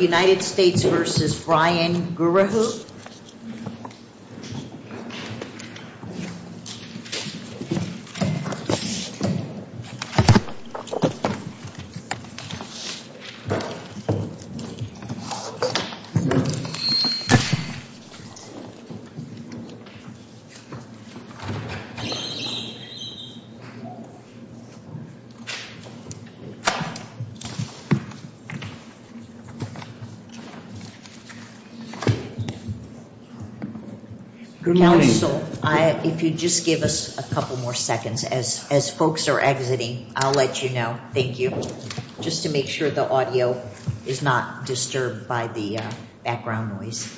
United States v. Brian Goorahoo Council, if you'd just give us a couple more seconds. As folks are exiting, I'll let you know. Thank you. Just to make sure the audio is not disturbed by the background noise.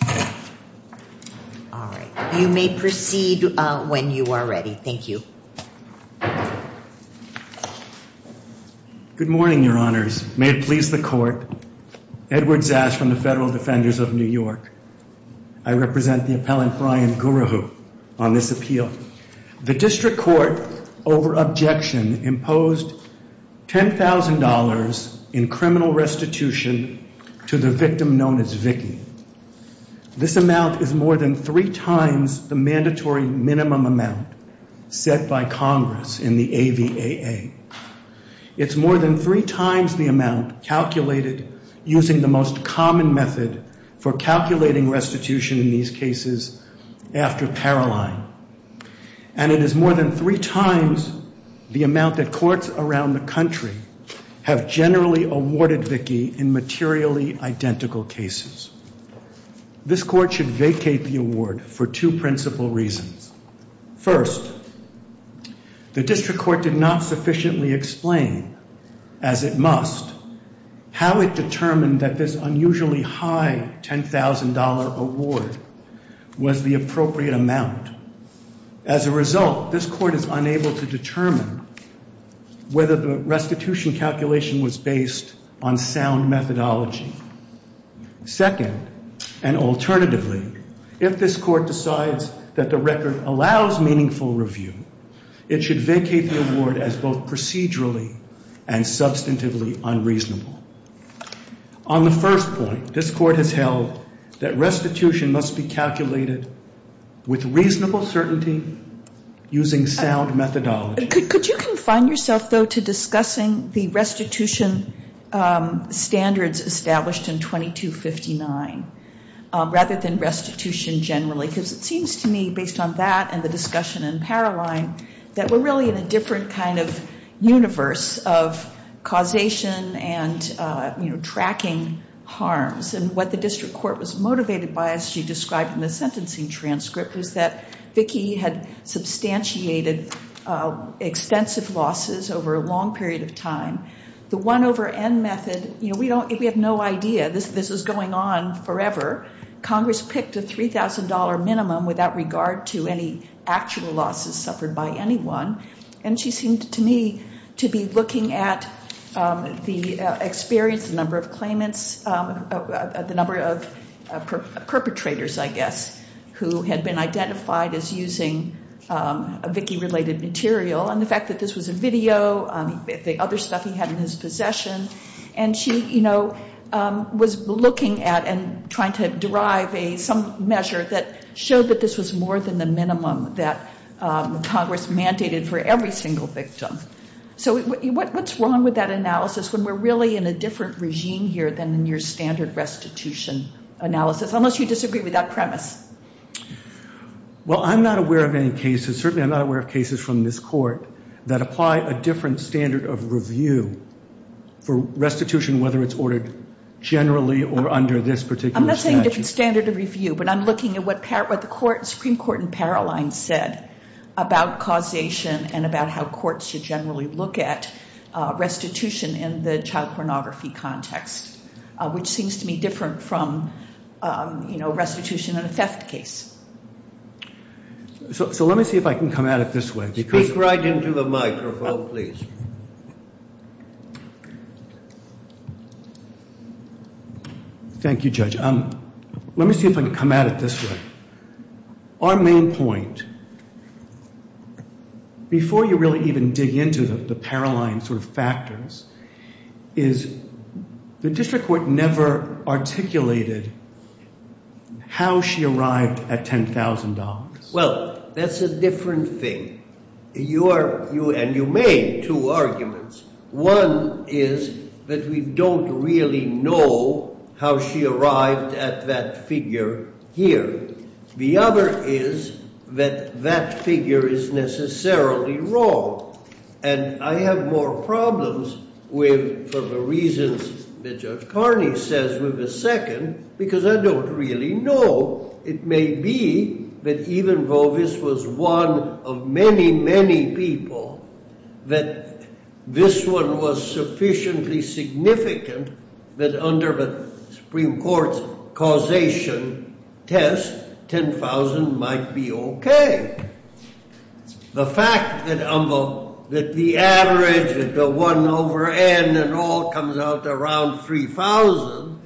All right. You may proceed when you are ready. Thank you. Good morning, your honors. May it please the court. Edward Zasch from the Federal Defenders of New York. I represent the appellant Brian Goorahoo on this appeal. The district court, over objection, imposed $10,000 in criminal restitution to the victim known as Vicki. This amount is more than three times the mandatory minimum amount set by Congress in the AVAA. It's more than three times the amount calculated using the most common method for calculating restitution in these cases after Paroline. And it is more than three times the amount that courts around the country have generally awarded Vicki in materially identical cases. This court should vacate the award for two principal reasons. First, the district court did not sufficiently explain, as it must, how it determined that this unusually high $10,000 award was the appropriate amount. As a result, this court is unable to determine whether the restitution calculation was based on sound methodology. Second, and alternatively, if this court decides that the record allows meaningful review, it should vacate the award as both procedurally and substantively unreasonable. On the first point, this court has held that restitution must be calculated with reasonable certainty using sound methodology. Could you confine yourself, though, to discussing the restitution standards established in 2259 rather than restitution generally? Because it seems to me, based on that and the discussion in Paroline, that we're really in a different kind of universe of causation and, you know, tracking harms. And what the district court was doing is it had substantiated extensive losses over a long period of time. The 1 over N method, you know, we have no idea. This was going on forever. Congress picked a $3,000 minimum without regard to any actual losses suffered by anyone. And she seemed to me to be looking at the experience, the number of claimants, the number of perpetrators, I guess, who had been identified as using a Vickie-related material. And the fact that this was a video, the other stuff he had in his possession. And she, you know, was looking at and trying to derive some measure that showed that this was more than the minimum that Congress mandated for every single victim. So what's wrong with that analysis when we're really in a different regime here than in your standard restitution analysis? Unless you disagree with that premise. Well, I'm not aware of any cases, certainly I'm not aware of cases from this court, that apply a different standard of review for restitution, whether it's ordered generally or under this particular statute. I'm not saying different standard of review, but I'm looking at what the Supreme Court in Paroline said about causation and about how courts should generally look at restitution in the child pornography context, which seems to me different from, you know, restitution in a theft case. So let me see if I can come at it this way. Speak right into the microphone, please. Thank you, Judge. Let me see if I can come at it this way. Our main point, before you really even dig into the Paroline sort of factors, is the district court never articulated how she arrived at $10,000. Well, that's a different thing. And you made two arguments. One is that we don't really know how she arrived at that figure here. The other is that that figure is necessarily wrong. And I have more problems with, for the reasons that Judge Carney says, with the second, because I don't really know. It may be that even though this was one of many, many people, that this one was sufficiently significant that under the Supreme Court's causation test, $10,000 might be okay. The fact that the average, that the 1 over N and all comes out around $3,000,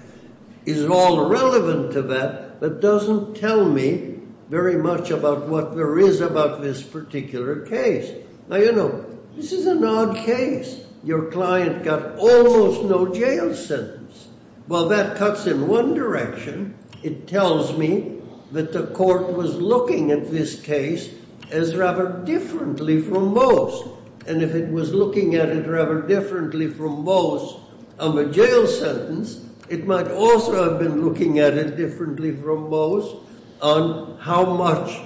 is all relevant to that, but doesn't tell me very much about what there is about this particular case. Now, you know, this is an odd case. Your client got almost no jail sentence. Well, that cuts in one direction. It tells me that the court was looking at this case as rather differently from Moe's. And if it was looking at it rather differently from Moe's on the jail sentence, it might also have been looking at it differently from Moe's on how much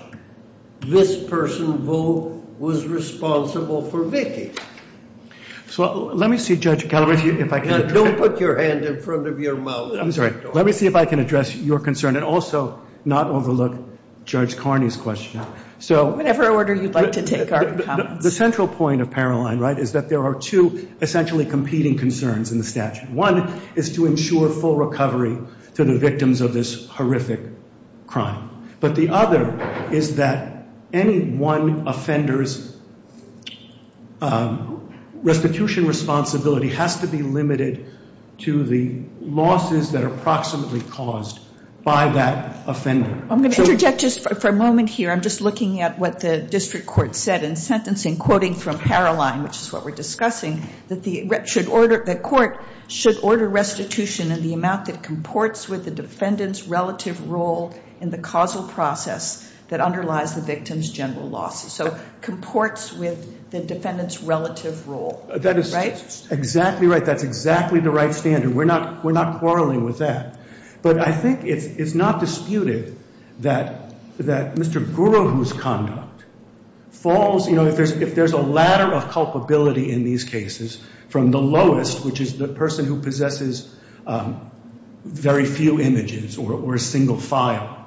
this person, Vo, was responsible for Vicki. So let me see, Judge Gallagher, if I can. Don't put your hand in front of your mouth. Let me see if I can address your concern and also not overlook Judge Carney's question. Whatever order you'd like to take our comments. The central point of Paroline, right, is that there are two essentially competing concerns in the statute. One is to ensure full recovery to the victims of this horrific crime. But the other is that any one offender's restitution responsibility has to be limited to the losses that are proximately caused by that offender. I'm going to interject just for a moment here. I'm just looking at what the district court said in sentencing, quoting from Paroline, which is what we're discussing, that the court should order restitution in the amount that comports with the defendant's relative role in the causal process that underlies the victim's general losses. So comports with the defendant's relative role, right? That is exactly right. That's exactly the right standard. We're not quarreling with that. But I think it's not disputed that Mr. Guru, whose conduct falls, you know, if there's a ladder of culpability in these cases from the lowest, which is the person who possesses very few images or a single file,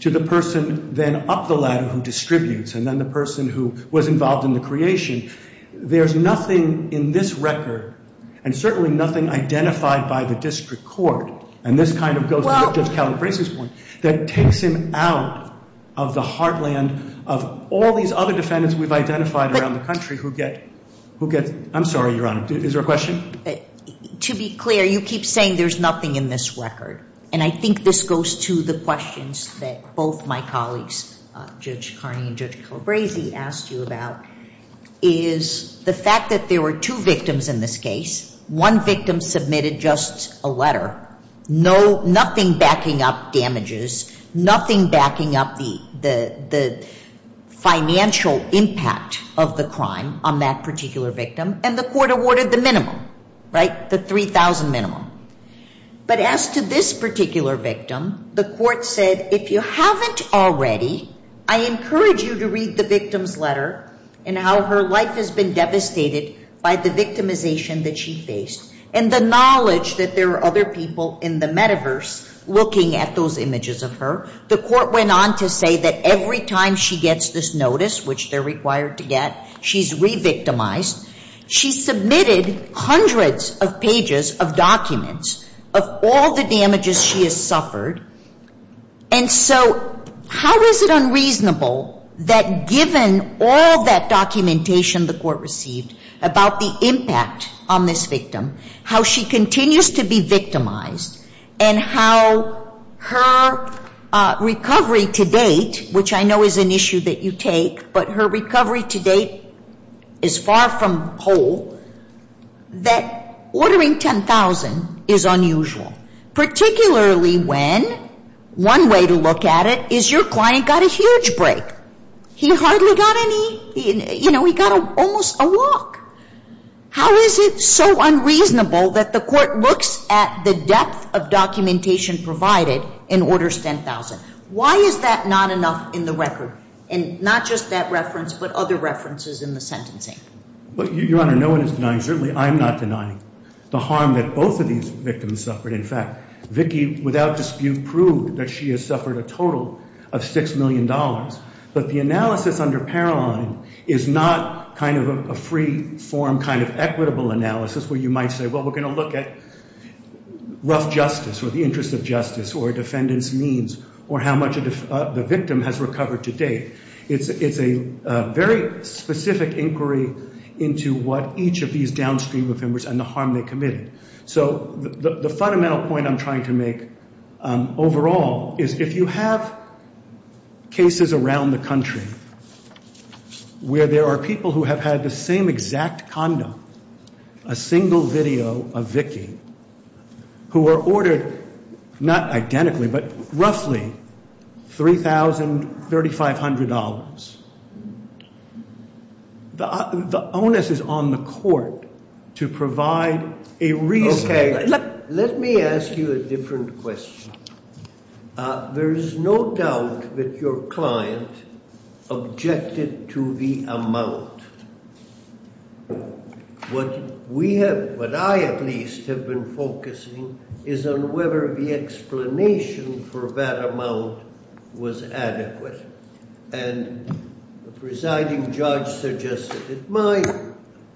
to the person then up the ladder who distributes, and then the person who was involved in the creation, there's nothing in this record, and certainly nothing identified by the district court, and this kind of goes to Judge Calabresi's point, that takes him out of the heartland of all these other defendants we've identified around the country who get, I'm sorry, Your Honor, is there a question? To be clear, you keep saying there's nothing in this record. And I think this goes to the questions that both my colleagues, Judge Carney and Judge Calabresi, asked you about is the fact that there were two victims in this case. One victim submitted just a letter, nothing backing up damages, nothing backing up the financial impact of the crime on that particular victim, and the court awarded the minimum, right, the $3,000 minimum. But as to this particular victim, the court said, if you haven't already, I encourage you to read the victim's letter and how her life has been devastated by the victimization that she faced, and the knowledge that there are other people in the metaverse looking at those images of her. The court went on to say that every time she gets this notice, which they're required to get, she's re-victimized. She submitted hundreds of pages of documents of all the damages she has suffered. And so how is it unreasonable that given all that documentation the court received about the impact on this victim, how she continues to be victimized, and how her recovery to date, which I know is an issue that you take, but her recovery to date is far from whole, that ordering $10,000 is unusual, particularly when one way to look at it is your client got a huge break. He hardly got any, you know, he got almost a walk. How is it so unreasonable that the court looks at the depth of documentation provided and orders $10,000? Why is that not enough in the record, and not just that reference but other references in the sentencing? Your Honor, no one is denying, certainly I'm not denying, the harm that both of these victims suffered. In fact, Vicki, without dispute, proved that she has suffered a total of $6 million. But the analysis under Paroline is not kind of a free-form kind of equitable analysis where you might say, well, we're going to look at rough justice or the interest of justice or a defendant's means or how much the victim has recovered to date. It's a very specific inquiry into what each of these downstream offenders and the harm they committed. So the fundamental point I'm trying to make overall is if you have cases around the country where there are people who have had the same exact condom, a single video of Vicki, who are ordered not identically but roughly $3,3500, the onus is on the court to provide a reason. Okay. Let me ask you a different question. There is no doubt that your client objected to the amount. What I at least have been focusing is on whether the explanation for that amount was adequate. And the presiding judge suggested it.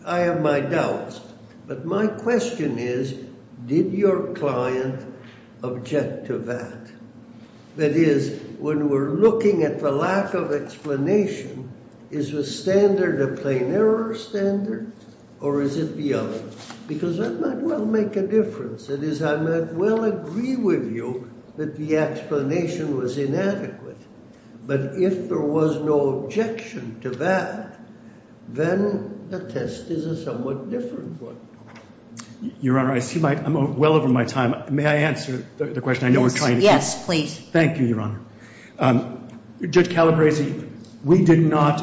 I have my doubts. But my question is, did your client object to that? That is, when we're looking at the lack of explanation, is the standard a plain error standard or is it the other? Because that might well make a difference. That is, I might well agree with you that the explanation was inadequate. But if there was no objection to that, then the test is a somewhat different one. Your Honor, I see I'm well over my time. May I answer the question I know we're trying to get? Yes, please. Thank you, Your Honor. Judge Calabresi, we did not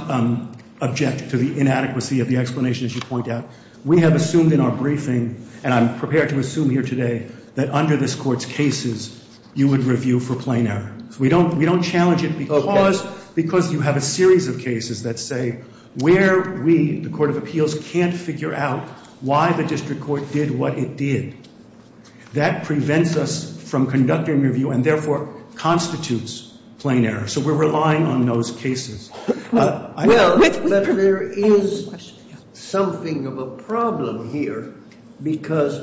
object to the inadequacy of the explanation, as you point out. We have assumed in our briefing, and I'm prepared to assume here today, that under this Court's cases you would review for plain error. We don't challenge it because you have a series of cases that say where we, the Court of Appeals, can't figure out why the district court did what it did. That prevents us from conducting a review and, therefore, constitutes plain error. So we're relying on those cases. Well, but there is something of a problem here because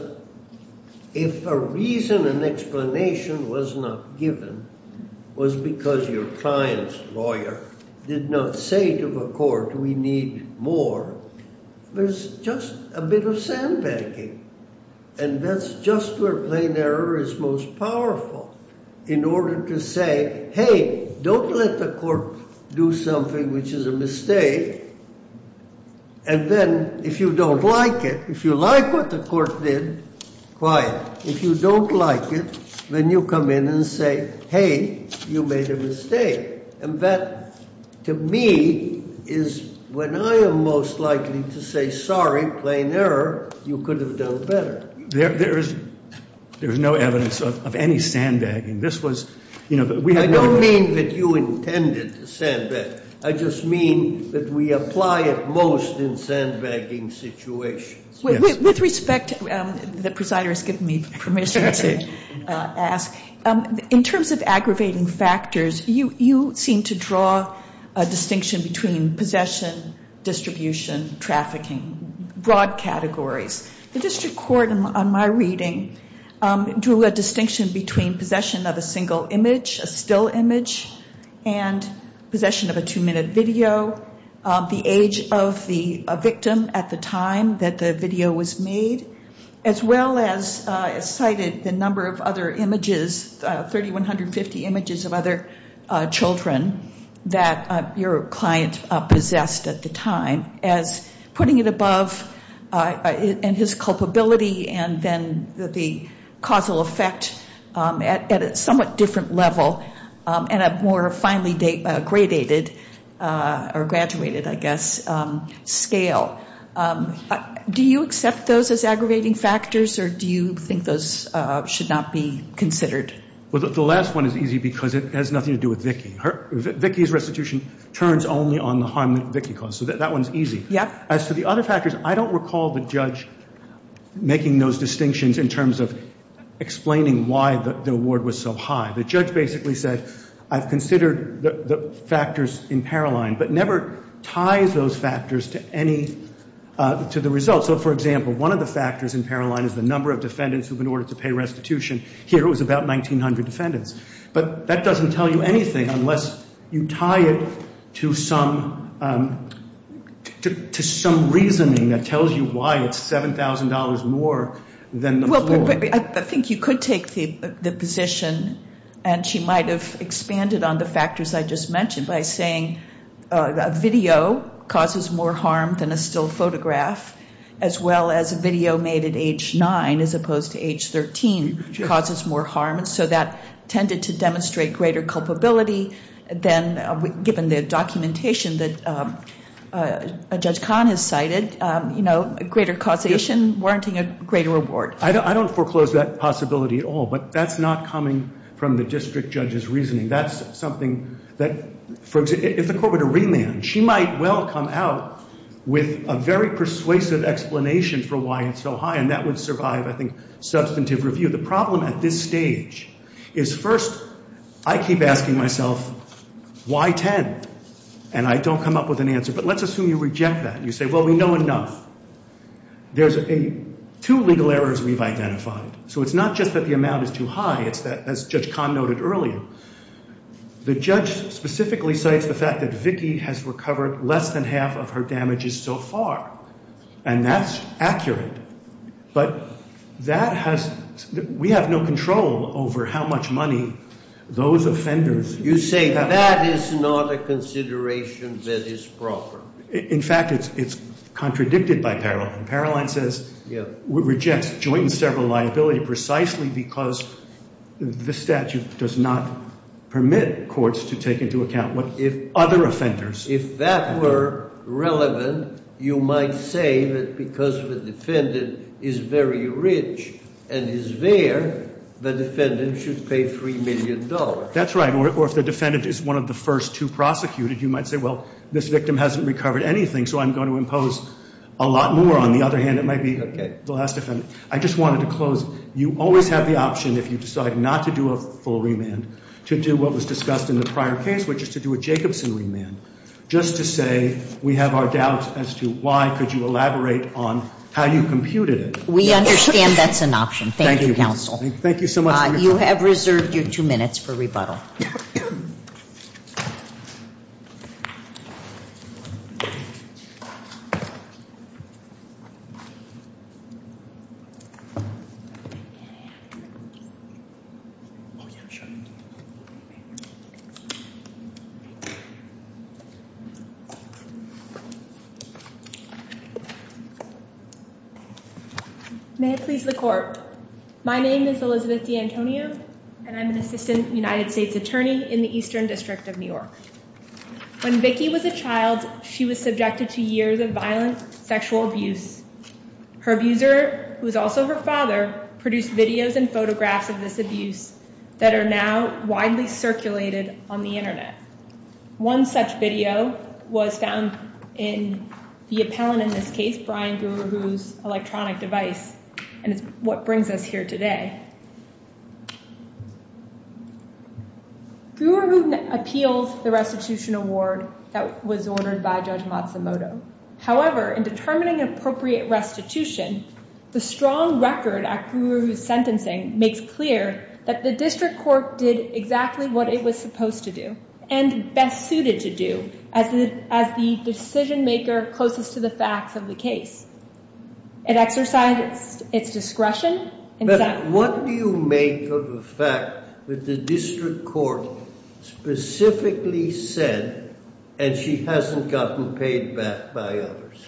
if a reason and explanation was not given, was because your client's lawyer did not say to the Court, we need more, there's just a bit of sandbagging. And that's just where plain error is most powerful, in order to say, hey, don't let the Court do something which is a mistake. And then if you don't like it, if you like what the Court did, quiet. If you don't like it, then you come in and say, hey, you made a mistake. And that, to me, is when I am most likely to say sorry, plain error, you could have done better. There is no evidence of any sandbagging. I don't mean that you intended to sandbag. I just mean that we apply it most in sandbagging situations. With respect, the presider has given me permission to ask, in terms of aggravating factors, you seem to draw a distinction between possession, distribution, trafficking, broad categories. The district court, in my reading, drew a distinction between possession of a single image, a still image, and possession of a two-minute video, the age of the victim at the time that the video was made, as well as cited the number of other images, 3,150 images of other children that your client possessed at the time, as putting it above his culpability and then the causal effect at a somewhat different level. And a more finely gradated, or graduated, I guess, scale. Do you accept those as aggravating factors, or do you think those should not be considered? The last one is easy because it has nothing to do with Vicki. Vicki's restitution turns only on the harm that Vicki caused, so that one is easy. As for the other factors, I don't recall the judge making those distinctions in terms of explaining why the award was so high. The judge basically said, I've considered the factors in Paroline, but never ties those factors to any, to the results. So, for example, one of the factors in Paroline is the number of defendants who've been ordered to pay restitution. Here it was about 1,900 defendants. But that doesn't tell you anything unless you tie it to some, to some reasoning that tells you why it's $7,000 more than the floor. I think you could take the position, and she might have expanded on the factors I just mentioned, by saying a video causes more harm than a still photograph, as well as a video made at age 9, as opposed to age 13, causes more harm. And so that tended to demonstrate greater culpability than, given the documentation that Judge Kahn has cited, you know, greater causation warranting a greater reward. I don't foreclose that possibility at all. But that's not coming from the district judge's reasoning. That's something that, for example, if the court were to remand, she might well come out with a very persuasive explanation for why it's so high. And that would survive, I think, substantive review. The problem at this stage is, first, I keep asking myself, why 10? And I don't come up with an answer. But let's assume you reject that and you say, well, we know enough. There's two legal errors we've identified. So it's not just that the amount is too high. It's that, as Judge Kahn noted earlier, the judge specifically cites the fact that Vicki has recovered less than half of her damages so far. And that's accurate. But that has – we have no control over how much money those offenders have. You say that is not a consideration that is proper. In fact, it's contradicted by Paroline. Paroline says – Rejects joint and several liability precisely because the statute does not permit courts to take into account what if other offenders – If that were relevant, you might say that because the defendant is very rich and is there, the defendant should pay $3 million. That's right. Or if the defendant is one of the first two prosecuted, you might say, well, this victim hasn't recovered anything, so I'm going to impose a lot more. On the other hand, it might be the last defendant. I just wanted to close. You always have the option, if you decide not to do a full remand, to do what was discussed in the prior case, which is to do a Jacobson remand, just to say we have our doubts as to why could you elaborate on how you computed it. We understand that's an option. Thank you, counsel. Thank you so much. You have reserved your two minutes for rebuttal. May it please the Court. My name is Elizabeth D'Antonio, and I'm an assistant United States attorney in the Eastern District of New York. When Vicki was a child, she was subjected to years of violent sexual abuse. Her abuser, who is also her father, produced videos and photographs of this abuse that are now widely circulated on the Internet. One such video was found in the appellant in this case, Brian Guru, whose electronic device, and it's what brings us here today. Guru appealed the restitution award that was ordered by Judge Matsumoto. However, in determining appropriate restitution, the strong record at Guru's sentencing makes clear that the district court did exactly what it was supposed to do, and best suited to do, as the decision-maker closest to the facts of the case. It exercised its discretion. But what do you make of the fact that the district court specifically said, and she hasn't gotten paid back by others?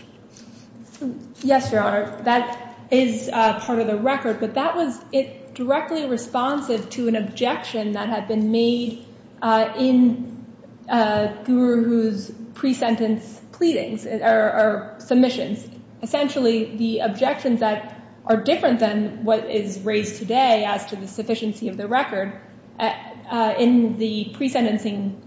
Yes, Your Honor, that is part of the record, but that was directly responsive to an objection that had been made in Guru's pre-sentence pleadings, or submissions. Essentially, the objections that are different than what is raised today as to the sufficiency of the record, in the pre-sentencing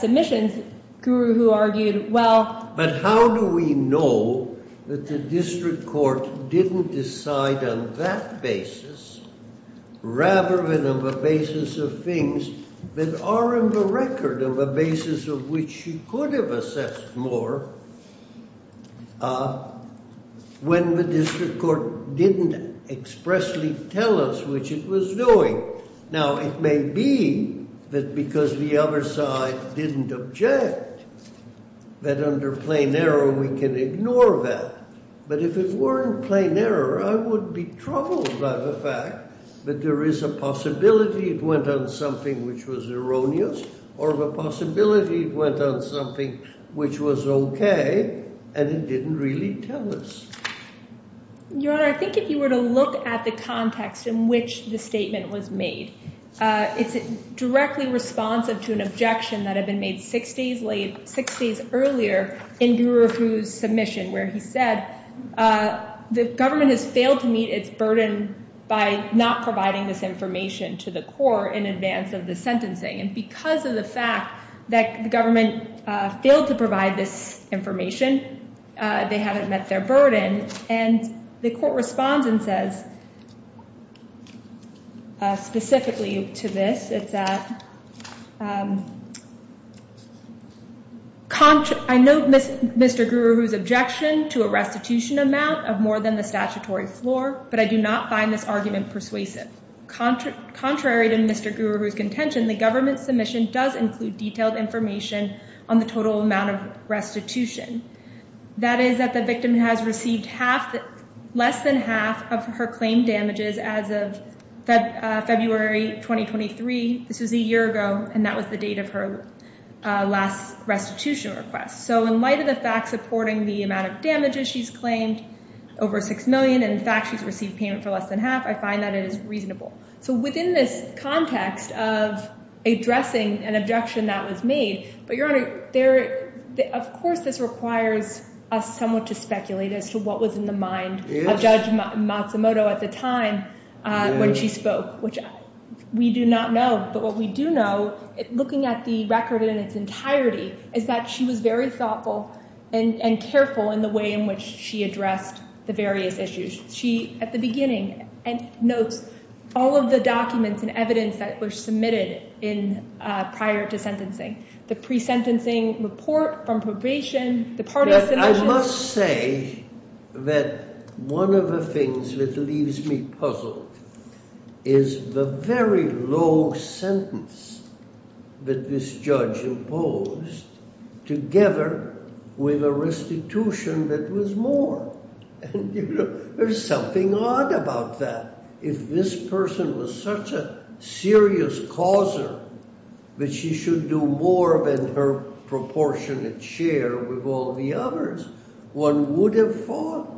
submissions, Guru, who argued, well… But how do we know that the district court didn't decide on that basis, rather than on the basis of things that are in the record, on the basis of which she could have assessed more, when the district court didn't expressly tell us which it was doing? Now, it may be that because the other side didn't object, that under plain error we can ignore that. But if it weren't plain error, I would be troubled by the fact that there is a possibility it went on something which was erroneous, or the possibility it went on something which was okay, and it didn't really tell us. Your Honor, I think if you were to look at the context in which the statement was made, it's directly responsive to an objection that had been made six days earlier in Guru's submission, where he said, the government has failed to meet its burden by not providing this information to the court in advance of the sentencing. And because of the fact that the government failed to provide this information, they haven't met their burden. And the court responds and says, specifically to this, it's, I note Mr. Guru's objection to a restitution amount of more than the statutory floor, but I do not find this argument persuasive. Contrary to Mr. Guru's contention, the government's submission does include detailed information on the total amount of restitution. That is that the victim has received less than half of her claimed damages as of February 2023. This was a year ago, and that was the date of her last restitution request. So in light of the fact supporting the amount of damages she's claimed, over $6 million, and in fact she's received payment for less than half, I find that it is reasonable. So within this context of addressing an objection that was made, but Your Honor, of course this requires us somewhat to speculate as to what was in the mind of Judge Matsumoto at the time when she spoke, which we do not know, but what we do know, looking at the record in its entirety, is that she was very thoughtful and careful in the way in which she addressed the various issues. She, at the beginning, notes all of the documents and evidence that were submitted prior to sentencing, the pre-sentencing report from probation, the part of the sentence… I must say that one of the things that leaves me puzzled is the very low sentence that this judge imposed, together with a restitution that was more. There's something odd about that. If this person was such a serious causer that she should do more than her proportionate share with all the others, one would have thought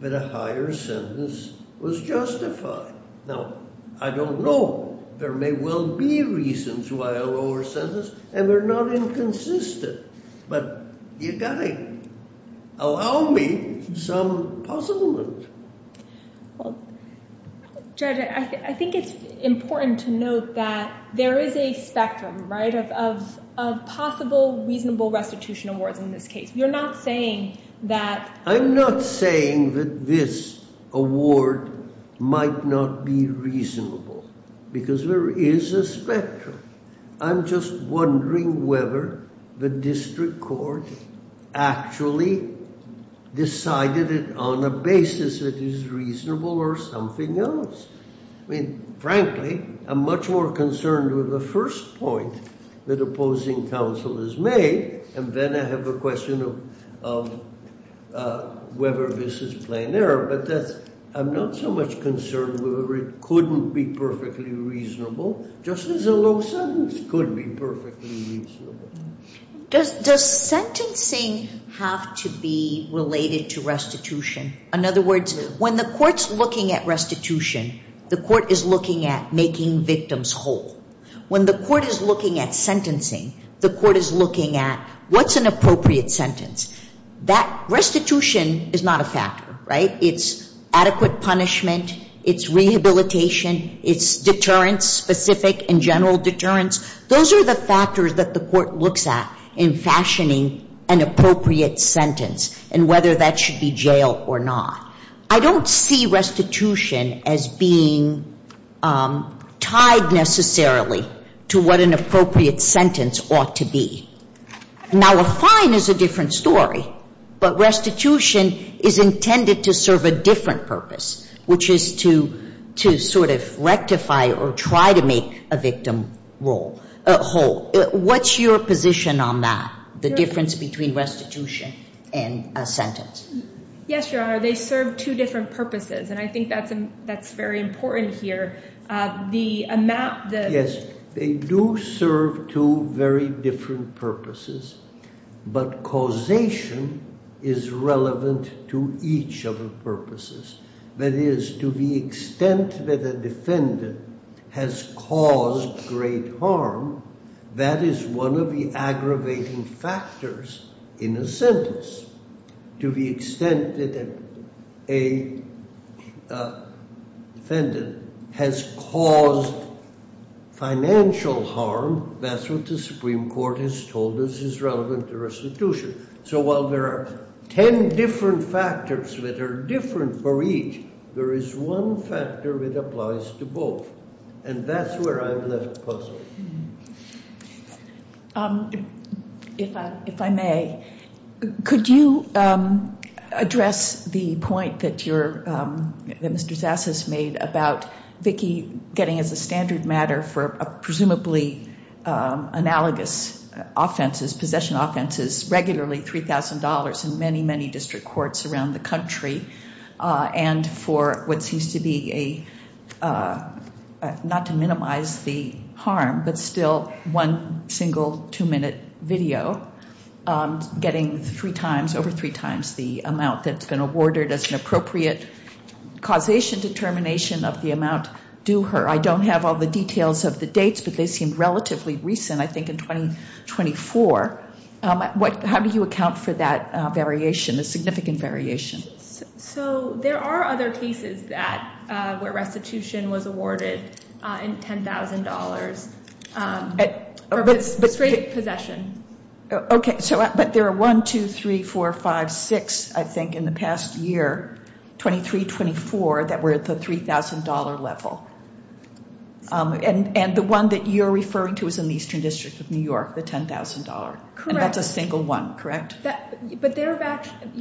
that a higher sentence was justified. Now, I don't know. There may well be reasons why a lower sentence, and they're not inconsistent, but you've got to allow me some puzzlement. Judge, I think it's important to note that there is a spectrum, right, of possible reasonable restitution awards in this case. You're not saying that… I'm not saying that this award might not be reasonable because there is a spectrum. I'm just wondering whether the district court actually decided it on a basis that is reasonable or something else. I mean, frankly, I'm much more concerned with the first point that opposing counsel has made, and then I have a question of whether this is plain error, but I'm not so much concerned whether it couldn't be perfectly reasonable. Just as a low sentence could be perfectly reasonable. Does sentencing have to be related to restitution? In other words, when the court's looking at restitution, the court is looking at making victims whole. When the court is looking at sentencing, the court is looking at what's an appropriate sentence. That restitution is not a factor, right? It's adequate punishment. It's rehabilitation. It's deterrence-specific and general deterrence. Those are the factors that the court looks at in fashioning an appropriate sentence and whether that should be jail or not. I don't see restitution as being tied necessarily to what an appropriate sentence ought to be. Now, a fine is a different story, but restitution is intended to serve a different purpose, which is to sort of rectify or try to make a victim whole. What's your position on that, the difference between restitution and a sentence? Yes, Your Honor, they serve two different purposes, and I think that's very important here. Yes, they do serve two very different purposes, but causation is relevant to each of the purposes. That is, to the extent that a defendant has caused great harm, that is one of the aggravating factors in a sentence. To the extent that a defendant has caused financial harm, that's what the Supreme Court has told us is relevant to restitution. So while there are ten different factors that are different for each, there is one factor that applies to both, and that's where I'm left puzzled. If I may, could you address the point that Mr. Zass has made about Vicki getting as a standard matter for presumably analogous offenses, possession offenses, regularly $3,000 in many, many district courts around the country, and for what seems to be a, not to minimize the harm, but still one single two-minute video, getting three times, over three times the amount that's been awarded as an appropriate causation determination of the amount due her. I don't have all the details of the dates, but they seem relatively recent, I think in 2024. How do you account for that variation, the significant variation? So there are other cases where restitution was awarded in $10,000 for straight possession. Okay, but there are one, two, three, four, five, six, I think, in the past year, 23, 24, that were at the $3,000 level. And the one that you're referring to is in the Eastern District of New York, the $10,000. Correct. And that's a single one, correct? But, Your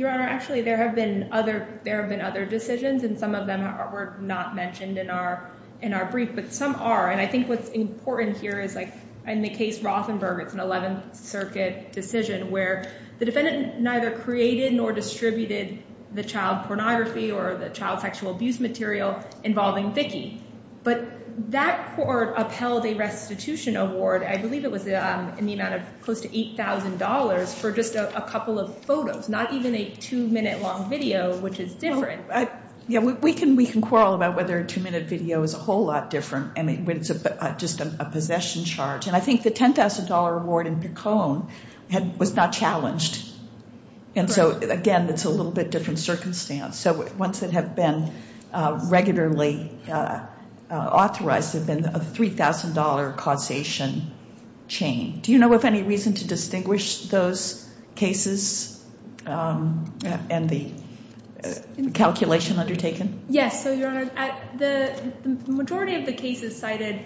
Honor, actually there have been other decisions, and some of them were not mentioned in our brief, but some are. And I think what's important here is like in the case Rothenberg, it's an 11th Circuit decision, where the defendant neither created nor distributed the child pornography or the child sexual abuse material involving Vicki. But that court upheld a restitution award, I believe it was in the amount of close to $8,000, for just a couple of photos, not even a two-minute long video, which is different. Yeah, we can quarrel about whether a two-minute video is a whole lot different, I mean, when it's just a possession charge. And I think the $10,000 award in Picon was not challenged. And so, again, it's a little bit different circumstance. So ones that have been regularly authorized have been a $3,000 causation chain. Do you know of any reason to distinguish those cases and the calculation undertaken? Yes, so, Your Honor, the majority of the cases cited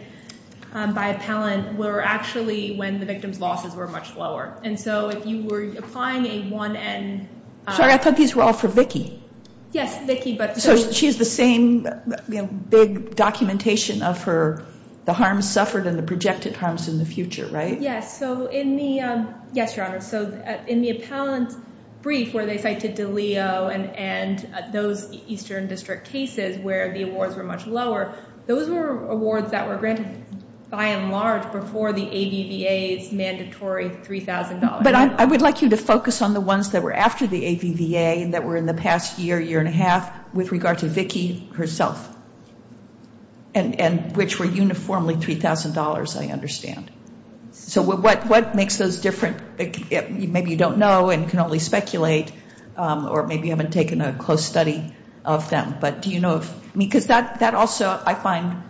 by appellant were actually when the victim's losses were much lower. And so if you were applying a one-end- Sorry, I thought these were all for Vicki. Yes, Vicki, but- So she has the same big documentation of the harms suffered and the projected harms in the future, right? Yes, Your Honor, so in the appellant brief where they cited DeLeo and those Eastern District cases where the awards were much lower, those were awards that were granted by and large before the AVVA's mandatory $3,000. But I would like you to focus on the ones that were after the AVVA that were in the past year, year and a half, with regard to Vicki herself, and which were uniformly $3,000, I understand. So what makes those different? Maybe you don't know and can only speculate, or maybe you haven't taken a close study of them, but do you know of- because that also I find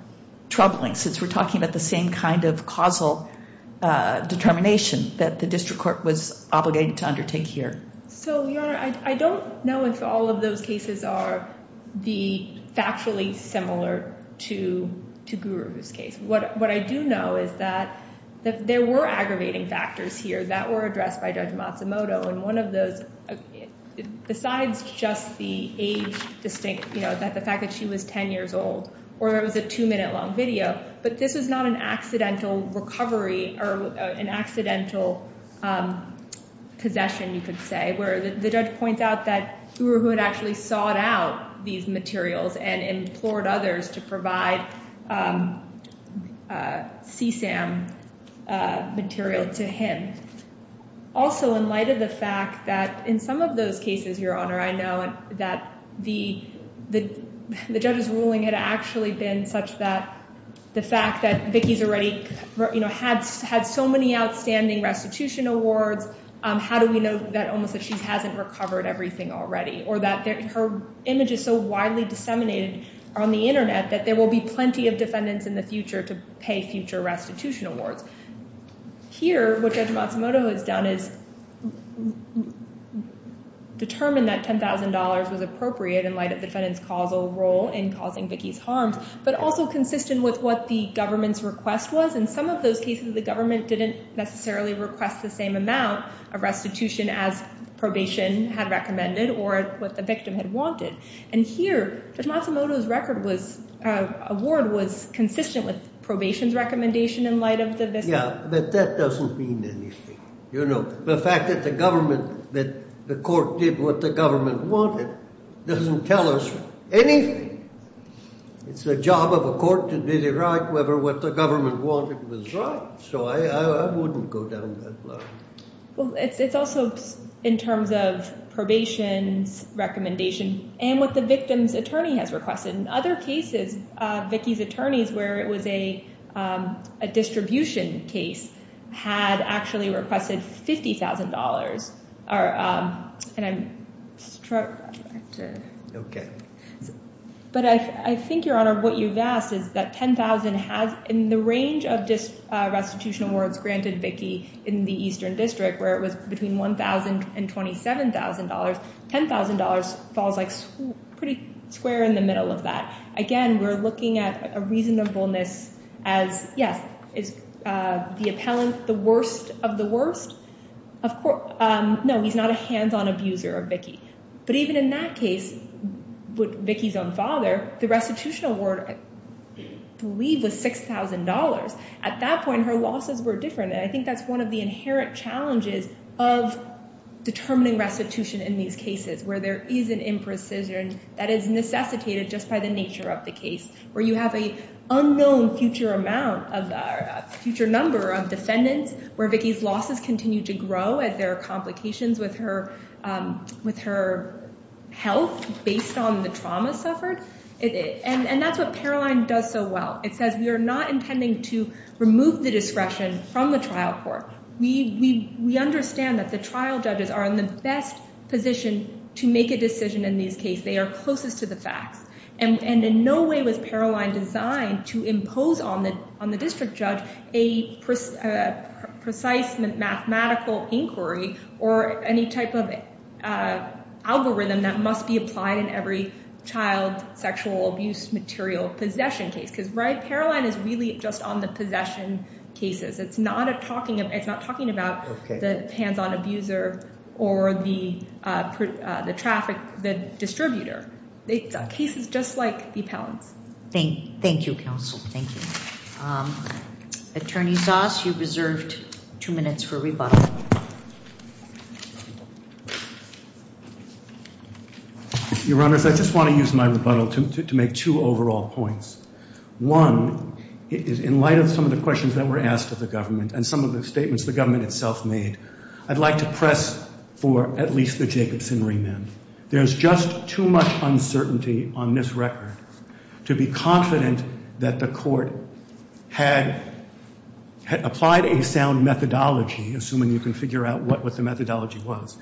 troubling, since we're talking about the same kind of causal determination that the district court was obligated to undertake here. So, Your Honor, I don't know if all of those cases are factually similar to Guru's case. What I do know is that there were aggravating factors here that were addressed by Judge Matsumoto, and one of those, besides just the age distinct, you know, the fact that she was 10 years old, or it was a two-minute long video, but this was not an accidental recovery or an accidental possession, you could say, where the judge points out that Guru had actually sought out these materials and implored others to provide CSAM material to him. Also, in light of the fact that in some of those cases, Your Honor, I know that the judge's ruling had actually been such that the fact that Vicki's already, you know, had so many outstanding restitution awards, how do we know that almost that she hasn't recovered everything already, or that her image is so widely disseminated on the Internet that there will be plenty of defendants in the future to pay future restitution awards. Here, what Judge Matsumoto has done is determined that $10,000 was appropriate in light of the defendant's causal role in causing Vicki's harms, but also consistent with what the government's request was. In some of those cases, the government didn't necessarily request the same amount of restitution as probation had recommended or what the victim had wanted. And here, Judge Matsumoto's award was consistent with probation's recommendation in light of the victim. Yeah, but that doesn't mean anything. You know, the fact that the court did what the government wanted doesn't tell us anything. It's the job of a court to determine whether what the government wanted was right, so I wouldn't go down that line. Well, it's also in terms of probation's recommendation and what the victim's attorney has requested. In other cases, Vicki's attorneys, where it was a distribution case, had actually requested $50,000. And I'm struck. Okay. But I think, Your Honor, what you've asked is that $10,000 has, in the range of restitution awards granted Vicki in the Eastern District, where it was between $1,000 and $27,000, $10,000 falls pretty square in the middle of that. Again, we're looking at a reasonableness as, yes, is the appellant the worst of the worst? No, he's not a hands-on abuser of Vicki. But even in that case, with Vicki's own father, the restitution award, I believe, was $6,000. At that point, her losses were different, and I think that's one of the inherent challenges of determining restitution in these cases, where there is an imprecision that is necessitated just by the nature of the case, where you have an unknown future number of defendants, where Vicki's losses continue to grow as there are complications with her health based on the trauma suffered. And that's what Paroline does so well. It says we are not intending to remove the discretion from the trial court. We understand that the trial judges are in the best position to make a decision in these cases. They are closest to the facts. And in no way was Paroline designed to impose on the district judge a precise mathematical inquiry or any type of algorithm that must be applied in every child sexual abuse material possession case. Because Paroline is really just on the possession cases. It's not talking about the hands-on abuser or the traffic distributor. The case is just like the appellant's. Thank you, counsel. Thank you. Attorney Zas, you've reserved two minutes for rebuttal. Your Honor, I just want to use my rebuttal to make two overall points. One is in light of some of the questions that were asked of the government and some of the statements the government itself made, I'd like to press for at least the Jacobson remand. There's just too much uncertainty on this record to be confident that the court had applied a sound methodology, assuming you can figure out what the methodology was.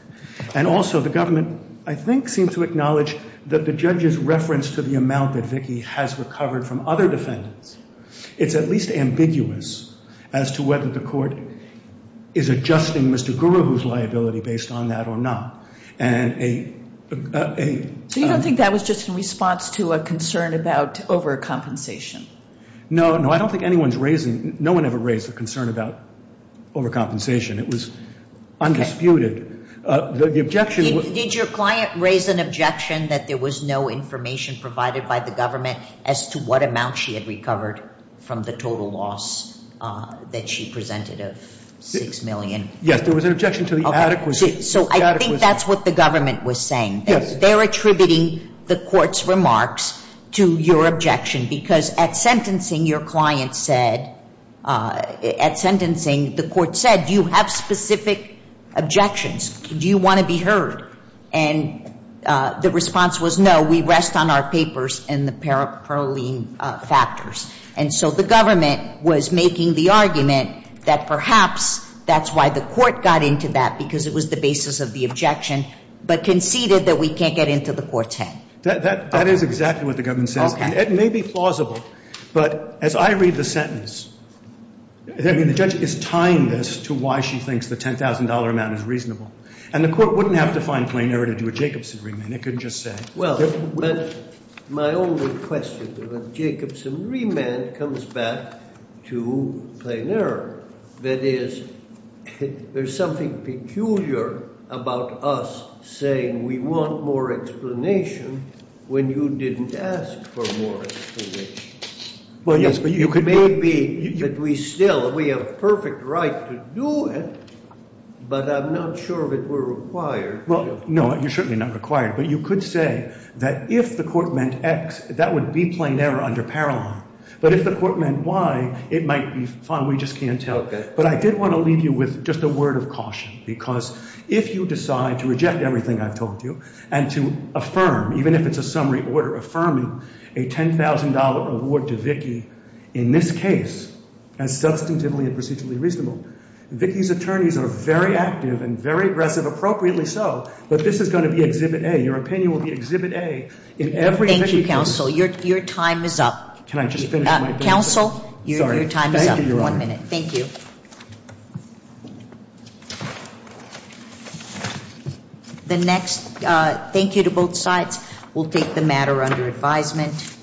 And also the government, I think, seems to acknowledge that the judge's reference to the amount that Vicki has recovered from other defendants, it's at least ambiguous as to whether the court is adjusting Mr. Guru's liability based on that or not. So you don't think that was just in response to a concern about overcompensation? No, no, I don't think anyone's raising, no one ever raised a concern about overcompensation. It was undisputed. Did your client raise an objection that there was no information provided by the government as to what amount she had recovered from the total loss that she presented of $6 million? Yes, there was an objection to the adequacy. So I think that's what the government was saying. Yes. They're attributing the court's remarks to your objection because at sentencing, your client said, at sentencing, the court said, do you have specific objections? Do you want to be heard? And the response was, no, we rest on our papers and the paraphernalia factors. And so the government was making the argument that perhaps that's why the court got into that, because it was the basis of the objection, but conceded that we can't get into the court's head. That is exactly what the government says. Okay. It may be plausible, but as I read the sentence, I mean, the judge is tying this to why she thinks the $10,000 amount is reasonable. And the court wouldn't have to find plain error to do a Jacobson remand. It couldn't just say. Well, my only question, the Jacobson remand comes back to plain error. That is, there's something peculiar about us saying we want more explanation when you didn't ask for more explanation. Well, yes, but you could. It may be that we still, we have a perfect right to do it, but I'm not sure if it were required. Well, no, you're certainly not required. But you could say that if the court meant X, that would be plain error under parallel. But if the court meant Y, it might be fine. We just can't tell. Okay. But I did want to leave you with just a word of caution, because if you decide to reject everything I've told you and to affirm, even if it's a summary order affirming a $10,000 award to Vicki in this case as substantively and procedurally reasonable, Vicki's attorneys are very active and very aggressive, appropriately so, but this is going to be Exhibit A. Your opinion will be Exhibit A in every Vicki case. Thank you, counsel. Your time is up. Can I just finish my brief? Counsel, your time is up. One minute. Thank you. Thank you. The next thank you to both sides. We'll take the matter under advisement.